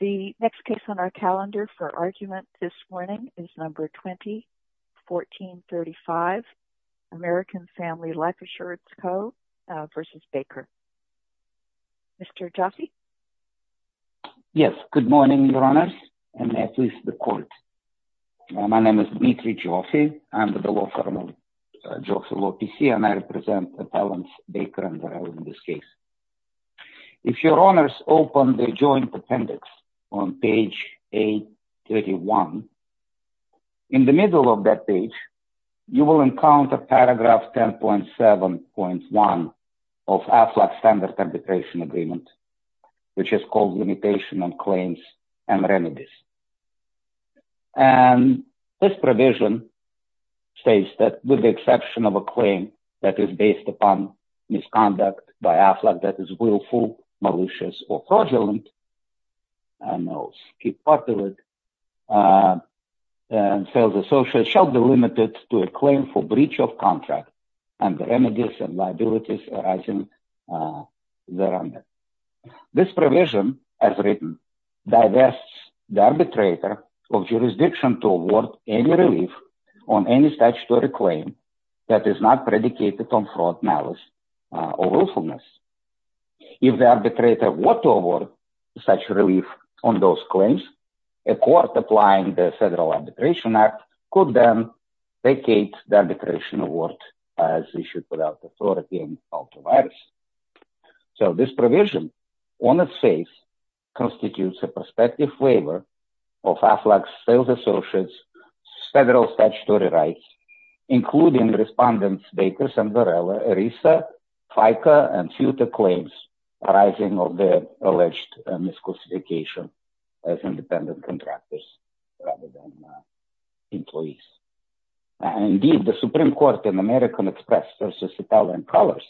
The next case on our calendar for argument this morning is number 20 1435 American Family Life Assurance Co. v. Baker. Mr. Joffe? Yes, good morning your honors and at least the court. My name is Dmitry Joffe. I'm the law firm of Joffe Law PC and I represent Appellants in this case. If your honors open the joint appendix on page 831 in the middle of that page you will encounter paragraph 10.7.1 of AFLAC Standard Arbitration Agreement which is called Limitation on Claims and Remedies. And this provision states that the exception of a claim that is based upon misconduct by AFLAC that is willful, malicious, or fraudulent and sales associates shall be limited to a claim for breach of contract and the remedies and liabilities arising thereunder. This provision as written divests the arbitrator of jurisdiction to award any relief on any statutory claim that is not predicated on fraud, malice, or willfulness. If the arbitrator were to award such relief on those claims, a court applying the Federal Arbitration Act could then vacate the arbitration award as issued without the fraudulence of the virus. So this provision on its face constitutes a prospective waiver of AFLAC's sales associates' federal statutory rights including respondents Bakers and Varela, ERISA, FICA, and FUTA claims arising of the alleged misclassification as independent contractors rather than employees. Indeed the Supreme Court in American Express versus Italian Colors,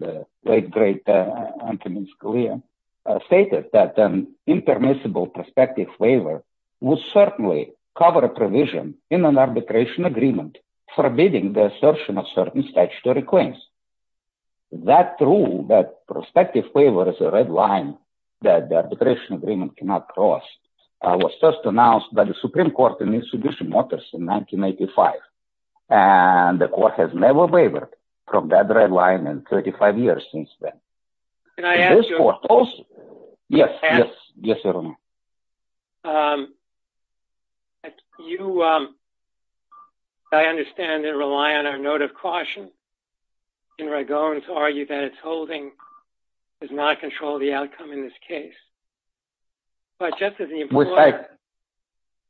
the great great Antonin Scalia stated that an impermissible prospective waiver would certainly cover a provision in an arbitration agreement forbidding the assertion of certain statutory claims. That rule that prospective waiver is a red line that the arbitration agreement cannot cross was first announced by the Supreme Court in Institution Motors in 1985 and the court has never wavered from that red line in 35 years since then. Can I ask you, I understand and rely on our note of caution, in Ragon to argue that its holding does not control the outcome in this case. But just as the employer,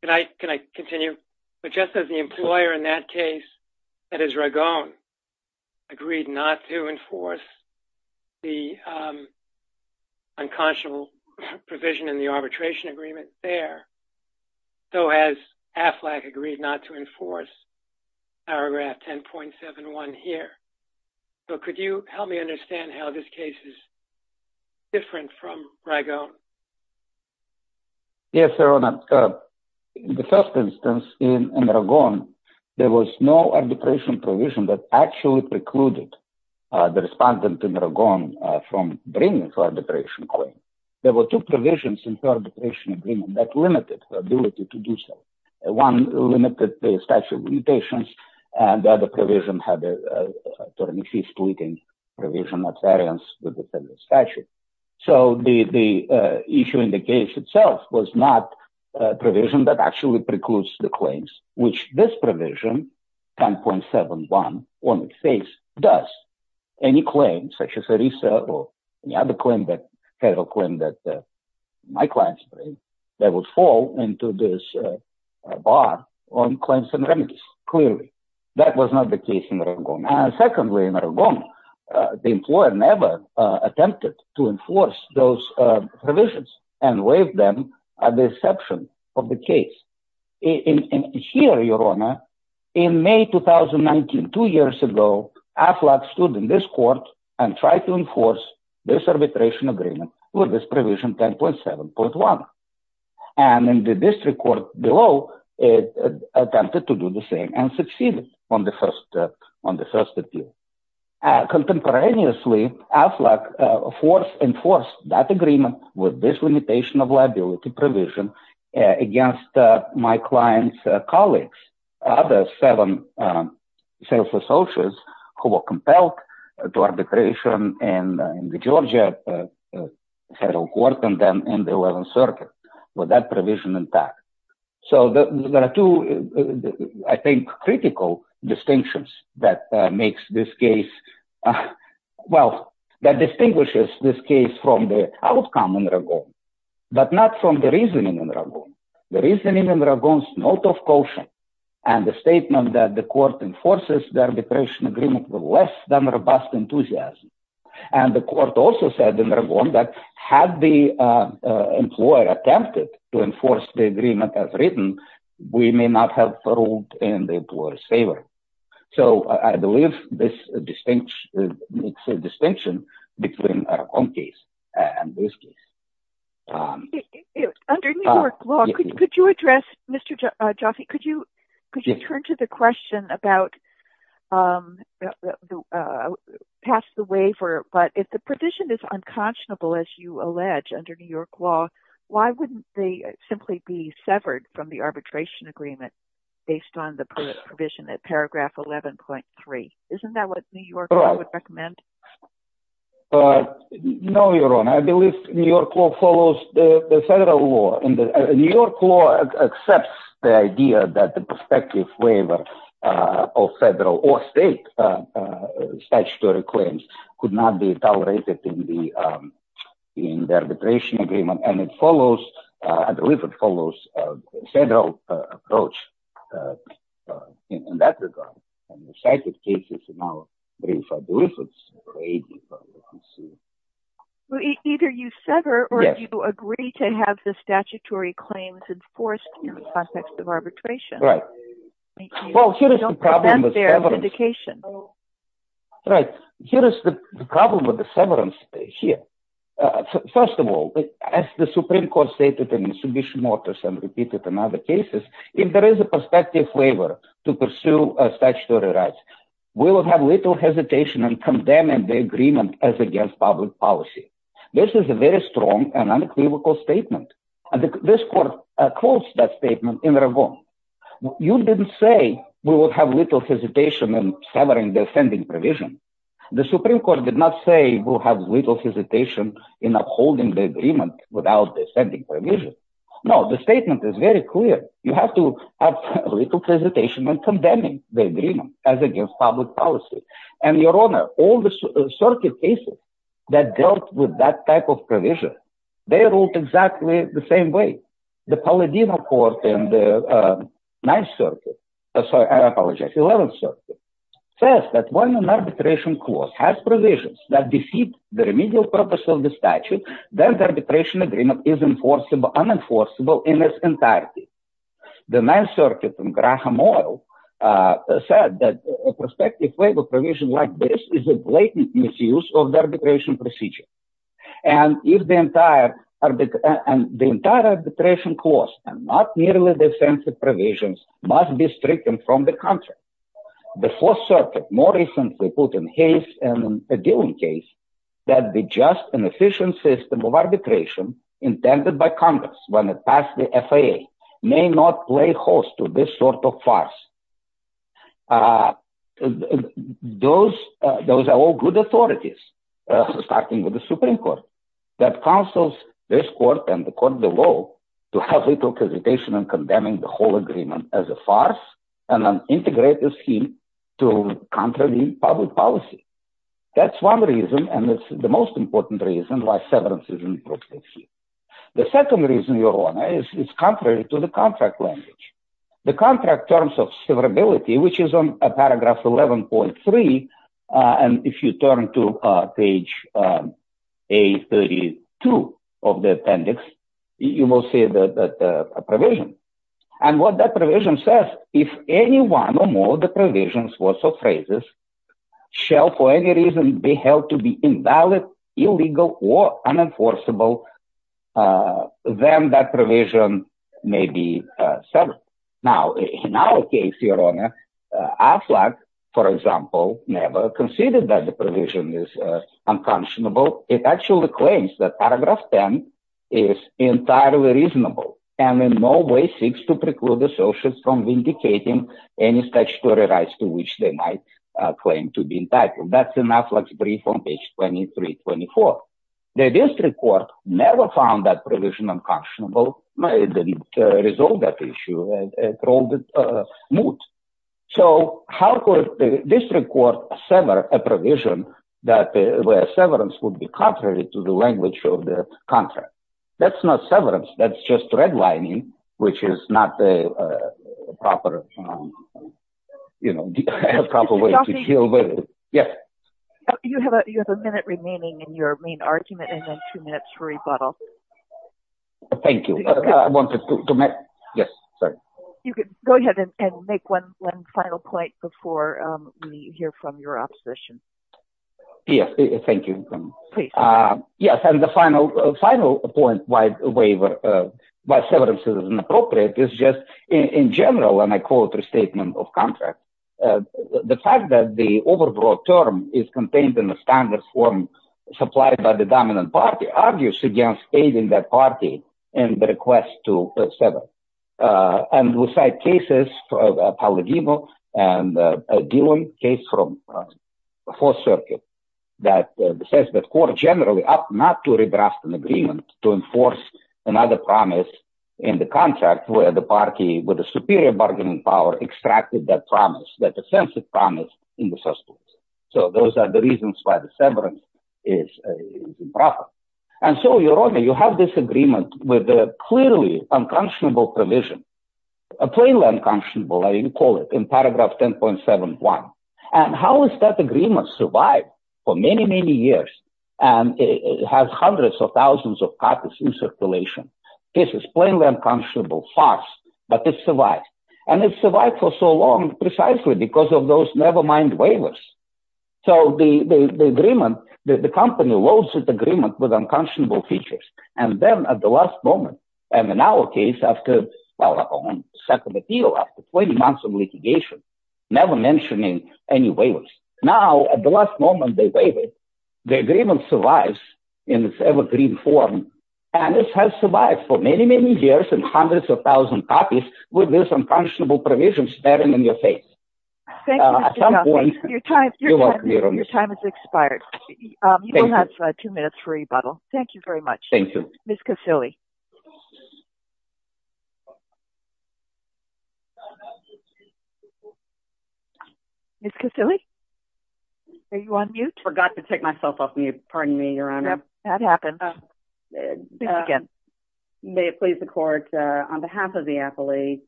can I continue, but just as the employer in that case, that is Ragon, agreed not to enforce the unconscionable provision in the arbitration agreement there, so has AFLAC agreed not to enforce paragraph 10.71 here. So could you help me understand how this case is different from Ragon? Yes, Your Honor. The first instance in Ragon, there was no arbitration provision that actually precluded the respondent in Ragon from bringing for arbitration claim. There were two provisions in her arbitration agreement that limited her ability to do so. One limited the statute limitations and the other provision had a terming fee splitting provision of variance with the federal statute. So the issue in the case itself was not a provision that actually precludes the claims, which this provision 10.71 on its face does. Any claim such as Arisa or federal claim that my clients bring, that would fall into this bar on claims and remedies, clearly. That was not the case in Ragon. Secondly, in Ragon, the employer never attempted to enforce those provisions and waived them at the exception of the case. Here, Your Honor, in May 2019, two years ago, AFLAC stood in this court and tried to enforce this arbitration agreement with this provision 10.71. And in the district court below, it attempted to do the same and succeeded on the first appeal. Contemporaneously, AFLAC enforced that agreement with this limitation of liability provision against my client's colleagues, the seven sales associates who were compelled to arbitration in the Georgia federal court and then in the 11th Circuit with that provision intact. So there are two, I think, critical distinctions that makes this case, uh, well, that distinguishes this case from the outcome in Ragon, but not from the reasoning in Ragon. The reasoning in Ragon's note of caution and the statement that the court enforces the arbitration agreement with less than robust enthusiasm. And the court also said in Ragon that had the employer attempted to enforce the agreement as written, we may not have in the employer's favor. So I believe this distinction makes a distinction between our own case and this case. Under New York law, could you address, Mr. Jaffe, could you, could you turn to the question about, um, pass the waiver, but if the provision is unconscionable, as you allege under New York law, why wouldn't they simply be severed from the arbitration agreement based on the provision at paragraph 11.3? Isn't that what New York law would recommend? Uh, no, Your Honor, I believe New York law follows the federal law and the New York law accepts the idea that the prospective waiver of federal or state statutory claims could not be tolerated in the arbitration agreement, and it follows, uh, it follows a federal approach, uh, in that regard, and the cited cases are now briefed for deliverance. Either you sever or you agree to have the statutory claims enforced in the context of arbitration. Right. Well, here is the problem with severance. Here, first of all, as the Supreme Court stated in submission mortars and repeated in other cases, if there is a prospective waiver to pursue a statutory right, we will have little hesitation and condemn the agreement as against public policy. This is a very strong and unequivocal statement, and this court quotes that statement in Ravon. You didn't say we would have little hesitation in severing the offending provision. The Supreme Court did not say we'll have little hesitation in upholding the agreement without the offending provision. No, the statement is very clear. You have to have little hesitation in condemning the agreement as against public policy, and, Your Honor, all the circuit cases that dealt with that type of provision, they quote in the Ninth Circuit, sorry, I apologize, Eleventh Circuit, says that when an arbitration clause has provisions that defeat the remedial purpose of the statute, then the arbitration agreement is enforceable, unenforceable in its entirety. The Ninth Circuit in Graham Oil said that a prospective waiver provision like this is a blatant misuse of the arbitration procedure, and if the entire arbitration clause, and not merely the offensive provisions, must be stricken from the contract. The Fourth Circuit more recently put in haste in a dealing case that the just and efficient system of arbitration intended by Congress when it passed the FAA may not play host to this sort of farce. Those are all good authorities, starting with the Supreme Court, that counsels this court and the court below to have little hesitation in condemning the whole agreement as a farce and an integrative scheme to contravene public policy. That's one reason, and it's the most important reason why severance is inappropriate here. The second reason, Your Honor, is contrary to the contract language. The contract terms of severability, which is on paragraph 11.3, and if you turn to page A32 of the appendix, you will see that a provision, and what that provision says, if any one or more of the provisions or phrases shall for any reason be held to be invalid, illegal, or unenforceable, then that provision may be severed. Now, in our case, Your Honor, AFLAC, for example, never conceded that the provision is unconscionable. It actually claims that paragraph 10 is entirely reasonable and in no way seeks to preclude associates from vindicating any statutory rights to which they might claim to be entitled. That's in AFLAC's brief on page 23. The district court never found that provision unconscionable. It didn't resolve that issue. So how could the district court sever a provision where severance would be contrary to the language of the contract? That's not severance. That's just redlining, which is not the proper way to deal with it. Yes? You have a minute remaining in your main argument and then two minutes for rebuttal. Thank you. I wanted to make... Yes, sorry. You could go ahead and make one final point before we hear from your opposition. Yes, thank you. Please. Yes, and the final point why severance is inappropriate is just, in general, when I quote the statement of contract, the fact that the overbroad term is contained in the standard form supplied by the dominant party argues against aiding that party in the request to sever. And we cite cases from Palladino and Dillon, case from Fourth Circuit, that says that court generally opt not to redress an agreement to enforce another promise in the contract where the party with a superior bargaining power extracted that promise, that offensive promise in the first place. So those are the reasons why the severance is improper. And so, Your Honor, you have this agreement with a clearly unconscionable provision, a plainly unconscionable, as you call it, in paragraph 10.71. And how has that agreement survived for many, many years? And it has hundreds of thousands of copies in circulation. This is plainly unconscionable farce, but it survived. And it survived for so long precisely because of those nevermind waivers. So the agreement, the company loads its agreement with unconscionable features. And then at the last moment, and in our case, after a settlement deal, after 20 months of litigation, never mentioning any waivers, now, at the last moment, they waive it. The agreement survives in its evergreen form, and it has survived for many, many years and hundreds of thousands of copies with this unconscionable provision staring in your face. At some point, you won't be able to see it. Your time has expired. You will have two minutes for rebuttal. Thank you very much. Thank you. Ms. Casilli. Ms. Casilli, are you on mute? Forgot to take myself off mute. Pardon me, Your Honor. That happens. May it please the court, on behalf of the appellee,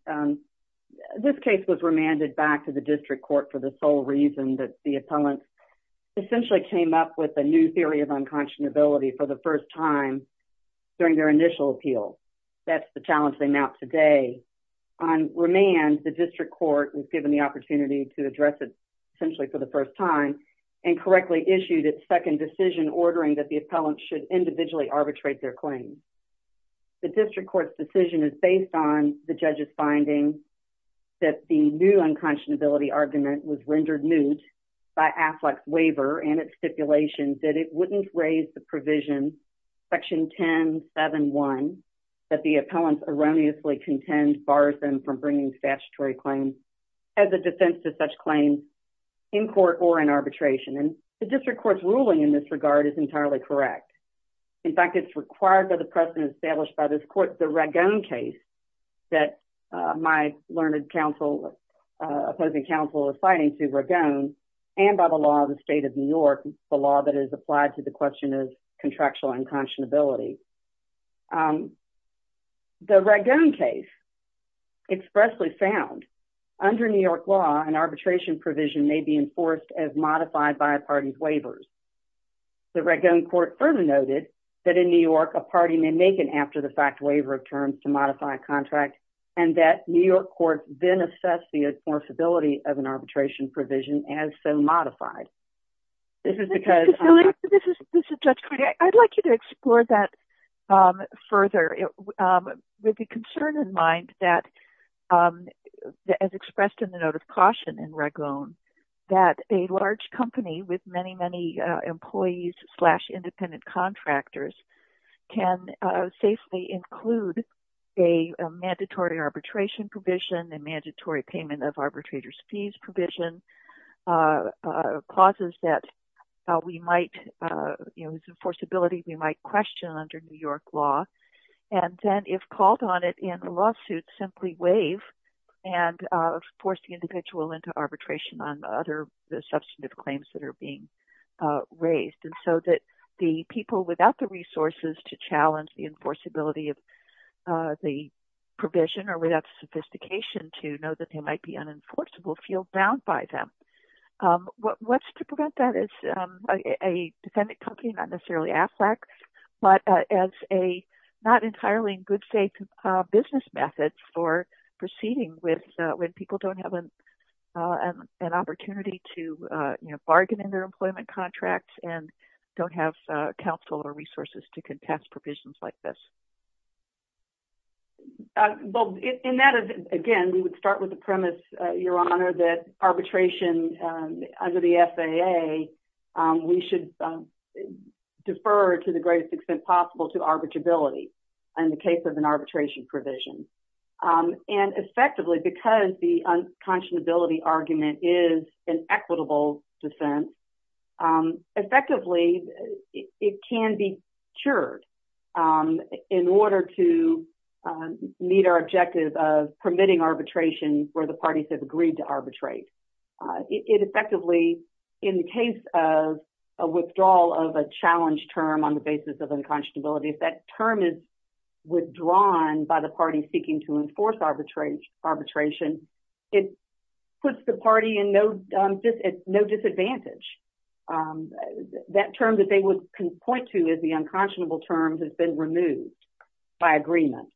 this case was remanded back to the district court for the sole reason that the appellant essentially came up with a new theory of unconscionability for the first time during their initial appeal. That's the challenge they mount today. On remand, the district court was given the opportunity to address it essentially for the first time and correctly issued its second decision ordering that the appellant should individually arbitrate their claim. The district court's decision is based on the judge's finding that the new unconscionability argument was rendered moot by Affleck's waiver and its stipulations that it wouldn't raise the provision, section 10-7-1, that the appellant erroneously contends bars them from bringing statutory claims as a defense to such claims in court or in arbitration. And the district court's ruling in this regard is entirely correct. In fact, it's required by the precedent established by this court, the Ragone case, that my learned opposing counsel is citing to Ragone and by the law of the state of New York, the law that is applied to the question of contractual unconscionability. The Ragone case expressly found under New York law, an arbitration provision may be enforced as modified by a party's waivers. The Ragone court further noted that in New York, a party may make an after-the-fact waiver of terms to modify a contract, and that New York court then assessed the enforceability of an arbitration provision as so modified. This is because... Judge Crudup, I'd like you to explore that further with the concern in mind that, as expressed in the note of caution in Ragone, that a large company with many, many employees slash independent contractors can safely include a mandatory arbitration provision, a mandatory payment of arbitrator's fees provision, clauses that we might, you know, whose enforceability we might question under New York law, and then, if called on it in a lawsuit, simply waive and force the individual into arbitration on other substantive claims that the people without the resources to challenge the enforceability of the provision or without sophistication to know that they might be unenforceable feel bound by them. What's to prevent that is a defendant company, not necessarily AFLAC, but as a not entirely good, safe business method for proceeding with when people don't have an opportunity to, you know, sign their employment contract and don't have counsel or resources to contest provisions like this. Well, in that, again, we would start with the premise, Your Honor, that arbitration under the FAA, we should defer to the greatest extent possible to arbitrability in the case of an arbitration provision. And effectively, because the unconscionability argument is an equitable defense, effectively, it can be cured in order to meet our objective of permitting arbitration where the parties have agreed to arbitrate. It effectively, in the case of a withdrawal of a challenge term on the basis of unconscionability, if that term is withdrawn by the party seeking to enforce arbitration, it puts the party in no disadvantage. That term that they would point to as the unconscionable term has been removed by agreement.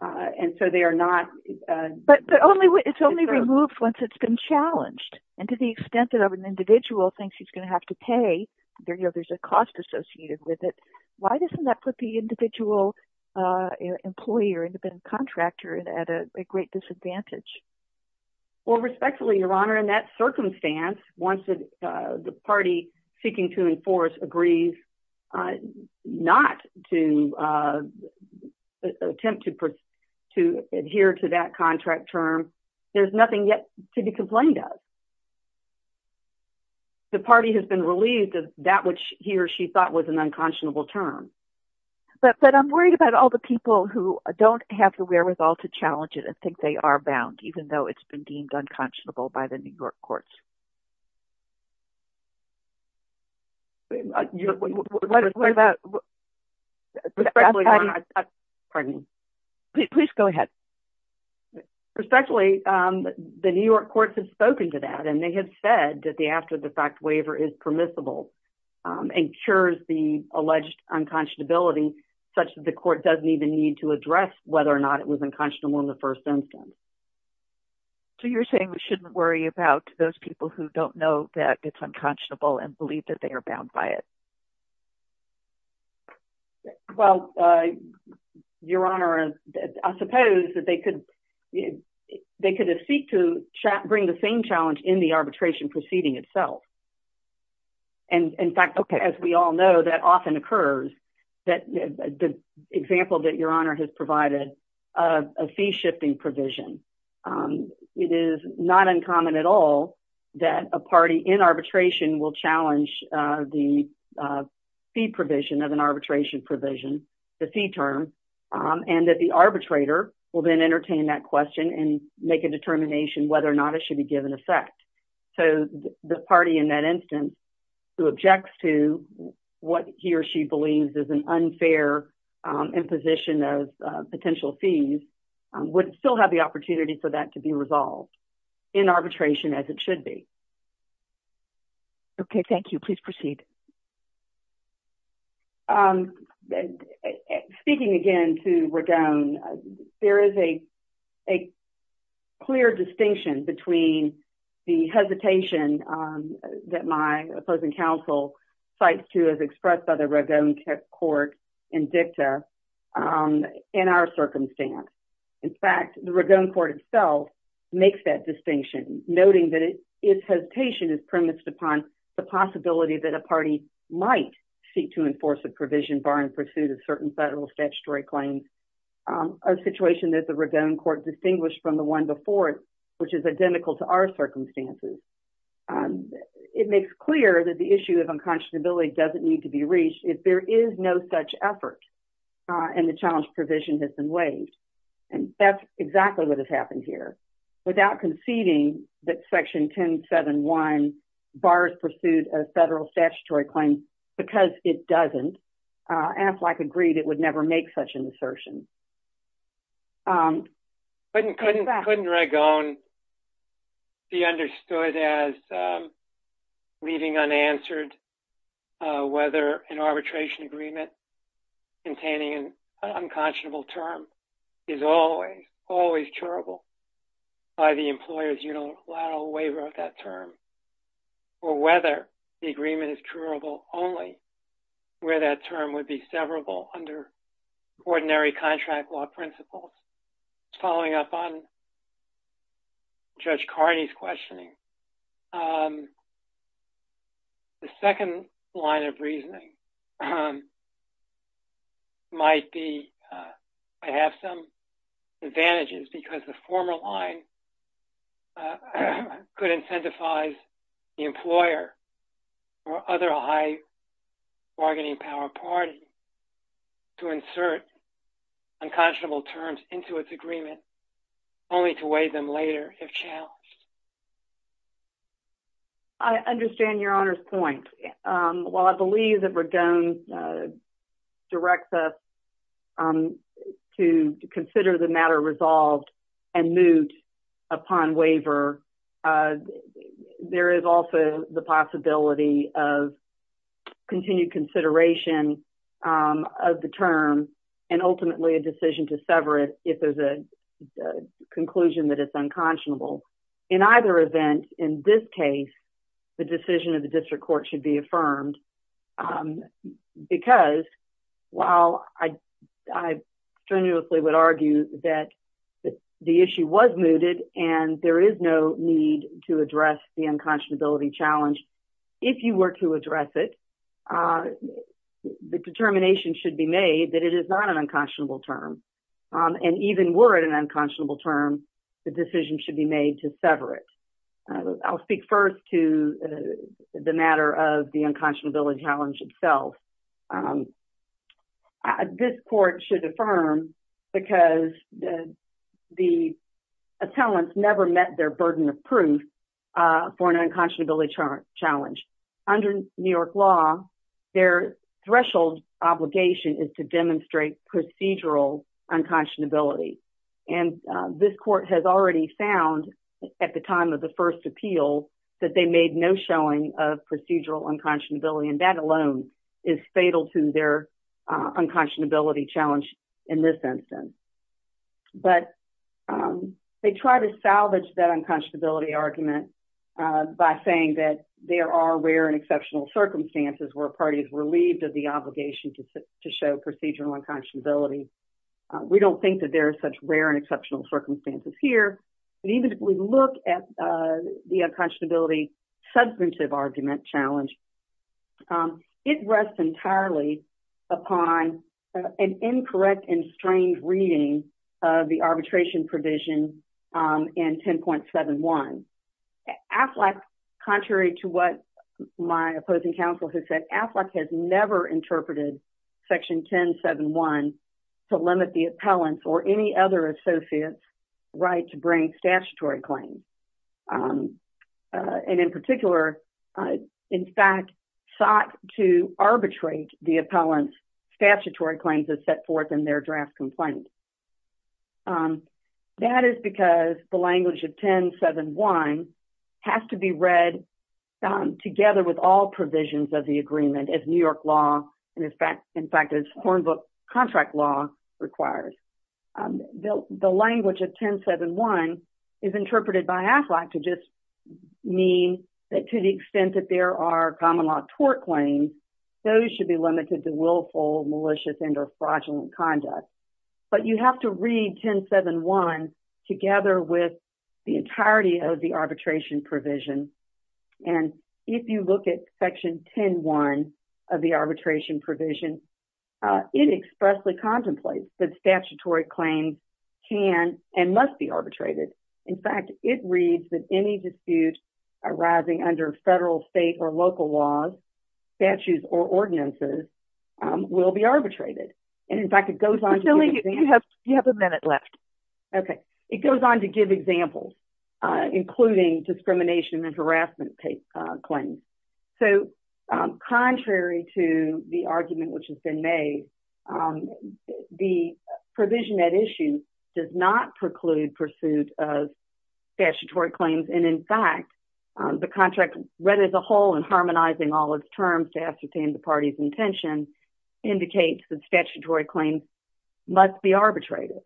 And so they are not... But it's only removed once it's been challenged. And to the extent that an individual thinks he's going to have to pay, there's a cost associated with it. Why doesn't that put the individual employee or independent contractor at a great disadvantage? Well, respectfully, Your Honor, in that circumstance, once the party seeking to enforce agrees not to attempt to adhere to that contract term, there's nothing yet to be complained of. The party has been relieved of that which he or she thought was an unconscionable term. But I'm worried about all the people who don't have the wherewithal to challenge it and think they are bound, even though it's been deemed unconscionable by the New York courts. What about... Pardon me. Please go ahead. Respectfully, the New York courts have spoken to that and they have said that the after-the-fact waiver is permissible and cures the alleged unconscionability such that the court doesn't even need to address whether or not it was unconscionable in the first instance. So you're saying we shouldn't worry about those people who don't know that it's unconscionable and believe that they are bound by it? Well, Your Honor, I suppose that they could have seek to bring the same challenge in the arbitration proceeding itself. And in fact, as we all know, that often occurs that the example that Your Honor has provided of a fee-shifting provision, it is not uncommon at all that a party in arbitration will challenge the fee provision of an arbitration provision, the fee term, and that the arbitrator will then entertain that question and make a determination whether or not it should be given effect. So the party in that instance who objects to what he or she believes is an unfair imposition of potential fees would still have the opportunity for that to be resolved in arbitration as it should be. Okay. Thank you. Please proceed. Speaking again to Ragone, there is a clear distinction between the hesitation that my opposing counsel cites to as expressed by the Ragone court in dicta in our circumstance. In fact, the Ragone court itself makes that distinction, noting that its hesitation is premised upon the possibility that a party might seek to enforce a provision barring pursuit of certain federal statutory claims, a situation that the Ragone court distinguished from the one before it, which is identical to our circumstances. It makes clear that the issue of unconscionability doesn't need to be reached if there is no such effort and the challenge provision has been waived. And that's exactly what has happened here. Without conceding that Section 1071 bars pursuit of federal statutory claims because it doesn't, and if like agreed, it would never make such an assertion. Couldn't Ragone be understood as leaving unanswered whether an arbitration agreement containing an unconscionable term is always, always curable by the employer's unilateral waiver of that term or whether the agreement is curable only where that term would be severable under ordinary contract law principles. Following up on Judge Carney's questioning, the second line of reasoning might have some advantages because the former line could incentivize the employer or other high bargaining power parties to insert unconscionable terms into its agreement only to waive them later if challenged. I understand your honor's point. While I believe that Ragone directs us to consider the matter resolved and moot upon waiver, there is also the possibility of continued consideration of the term and ultimately a decision to sever it if there's a conclusion that it's unconscionable. In either event, in this case, the decision of the district court should be affirmed because while I strenuously would argue that the issue was mooted and there is no need to address the unconscionability challenge, if you were to address it, the determination should be made that it is not an unconscionable term. And even were it an unconscionable term, the decision should be made to sever it. I'll speak first to the matter of the unconscionability challenge itself. This court should affirm because the attellants never met their burden of proof for an unconscionability challenge. Under New York law, their threshold obligation is to first appeal that they made no showing of procedural unconscionability and that alone is fatal to their unconscionability challenge in this instance. But they try to salvage that unconscionability argument by saying that there are rare and exceptional circumstances where a party is relieved of the obligation to show procedural unconscionability. We don't think that there are such rare and exceptional circumstances here. And even if we look at the unconscionability substantive argument challenge, it rests entirely upon an incorrect and strange reading of the arbitration provision in 10.71. AFLAC, contrary to what my opposing counsel has said, AFLAC has never interpreted section 10.71 to limit the appellant's or any other associate's right to bring statutory claims. And in particular, in fact, sought to arbitrate the appellant's statutory claims as set forth in their draft complaint. That is because the language of 10.71 has to be read together with all provisions of the agreement as New York law, in fact, as Hornbook contract law requires. The language of 10.71 is interpreted by AFLAC to just mean that to the extent that there are common law tort claims, those should be limited to willful, malicious, and or fraudulent conduct. But you have to read 10.71 together with the entirety of the arbitration provision. And if you look at section 10.1 of the arbitration provision, it expressly contemplates that statutory claims can and must be arbitrated. In fact, it reads that any dispute arising under federal, state, or local laws, statutes, or ordinances will be arbitrated. And in fact, it goes on to- including discrimination and harassment claims. So, contrary to the argument which has been made, the provision at issue does not preclude pursuit of statutory claims. And in fact, the contract read as a whole and harmonizing all its terms to ascertain the party's intention indicates that statutory claims must be arbitrated.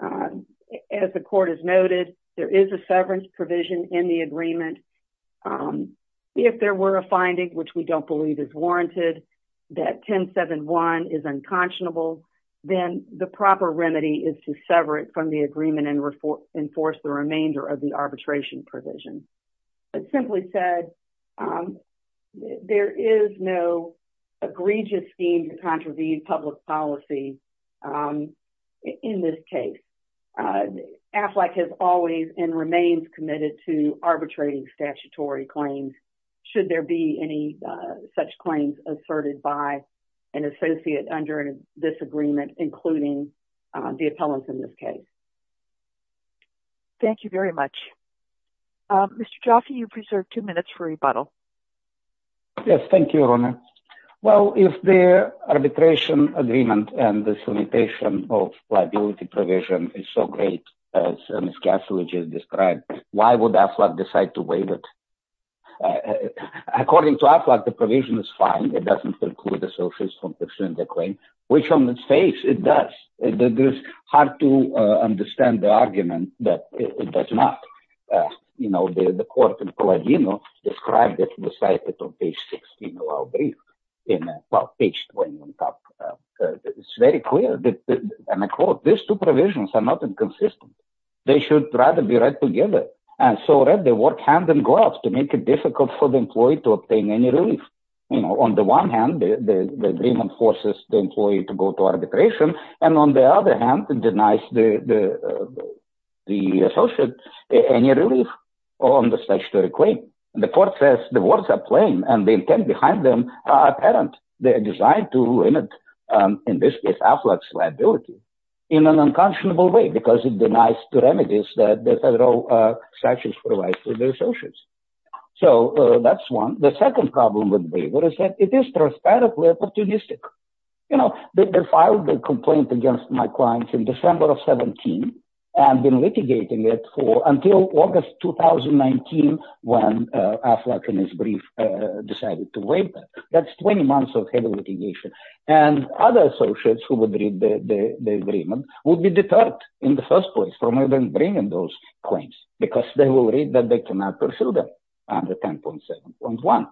As the court has noted, there is a severance provision in the agreement. If there were a finding, which we don't believe is warranted, that 10.71 is unconscionable, then the proper remedy is to sever it from the agreement and enforce the remainder of the arbitration provision. But simply said, there is no egregious scheme to contravene public policy in this case. AFLAC has always and remains committed to arbitrating statutory claims, should there be any such claims asserted by an associate under this agreement, including the appellants in this case. Thank you very much. Mr. Jaffe, you preserve two minutes for rebuttal. Yes, thank you, Your Honor. Well, if the arbitration agreement and this limitation of liability provision is so great, as Ms. Kasselich has described, why would AFLAC decide to waive it? According to AFLAC, the provision is fine. It doesn't preclude associates from pursuing the claim, which on its face it does. It is hard to understand the argument that it does not. You know, the court in Palladino described it in the citation of page 16 of our brief, in, well, page 21. It's very clear that, and I quote, these two provisions are not inconsistent. They should rather be read together, and so read the work hand in glove to make it difficult for the employee to obtain any relief. You know, on the one hand, the agreement forces the employee to go to arbitration, and on the other hand, it denies the associate any relief on the statutory claim. The court says the words are plain, and the intent behind them are apparent. They are designed to limit, in this case, AFLAC's liability in an unconscionable way, because it denies the remedies that the federal statutes provide for the associates. So that's one. The second problem with waiver is that it is transparently opportunistic. You know, they filed a complaint against my clients in December of 17, and been litigating it for until August 2019, when AFLAC in its brief decided to waive that. That's 20 months of heavy litigation, and other associates who would read the agreement would be deterred in the first place from even bringing those claims, because they will read that they cannot pursue them under 10.7.1,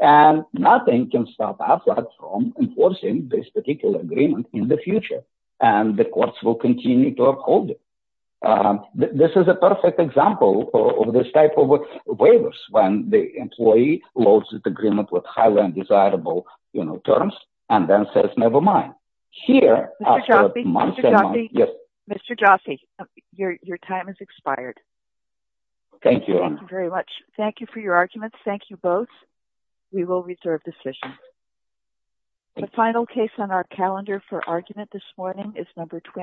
and nothing can stop AFLAC from enforcing this particular agreement in the future, and the courts will continue to uphold it. This is a perfect example of this type of waivers, when the employee loads the agreement with highly undesirable, you know, terms, and then says, never mind. Here, after a month and a half... Yes, Mr. Jaffe, your time has expired. Thank you. Thank you very much. Thank you for your decision. The final case on our calendar for argument this morning is number...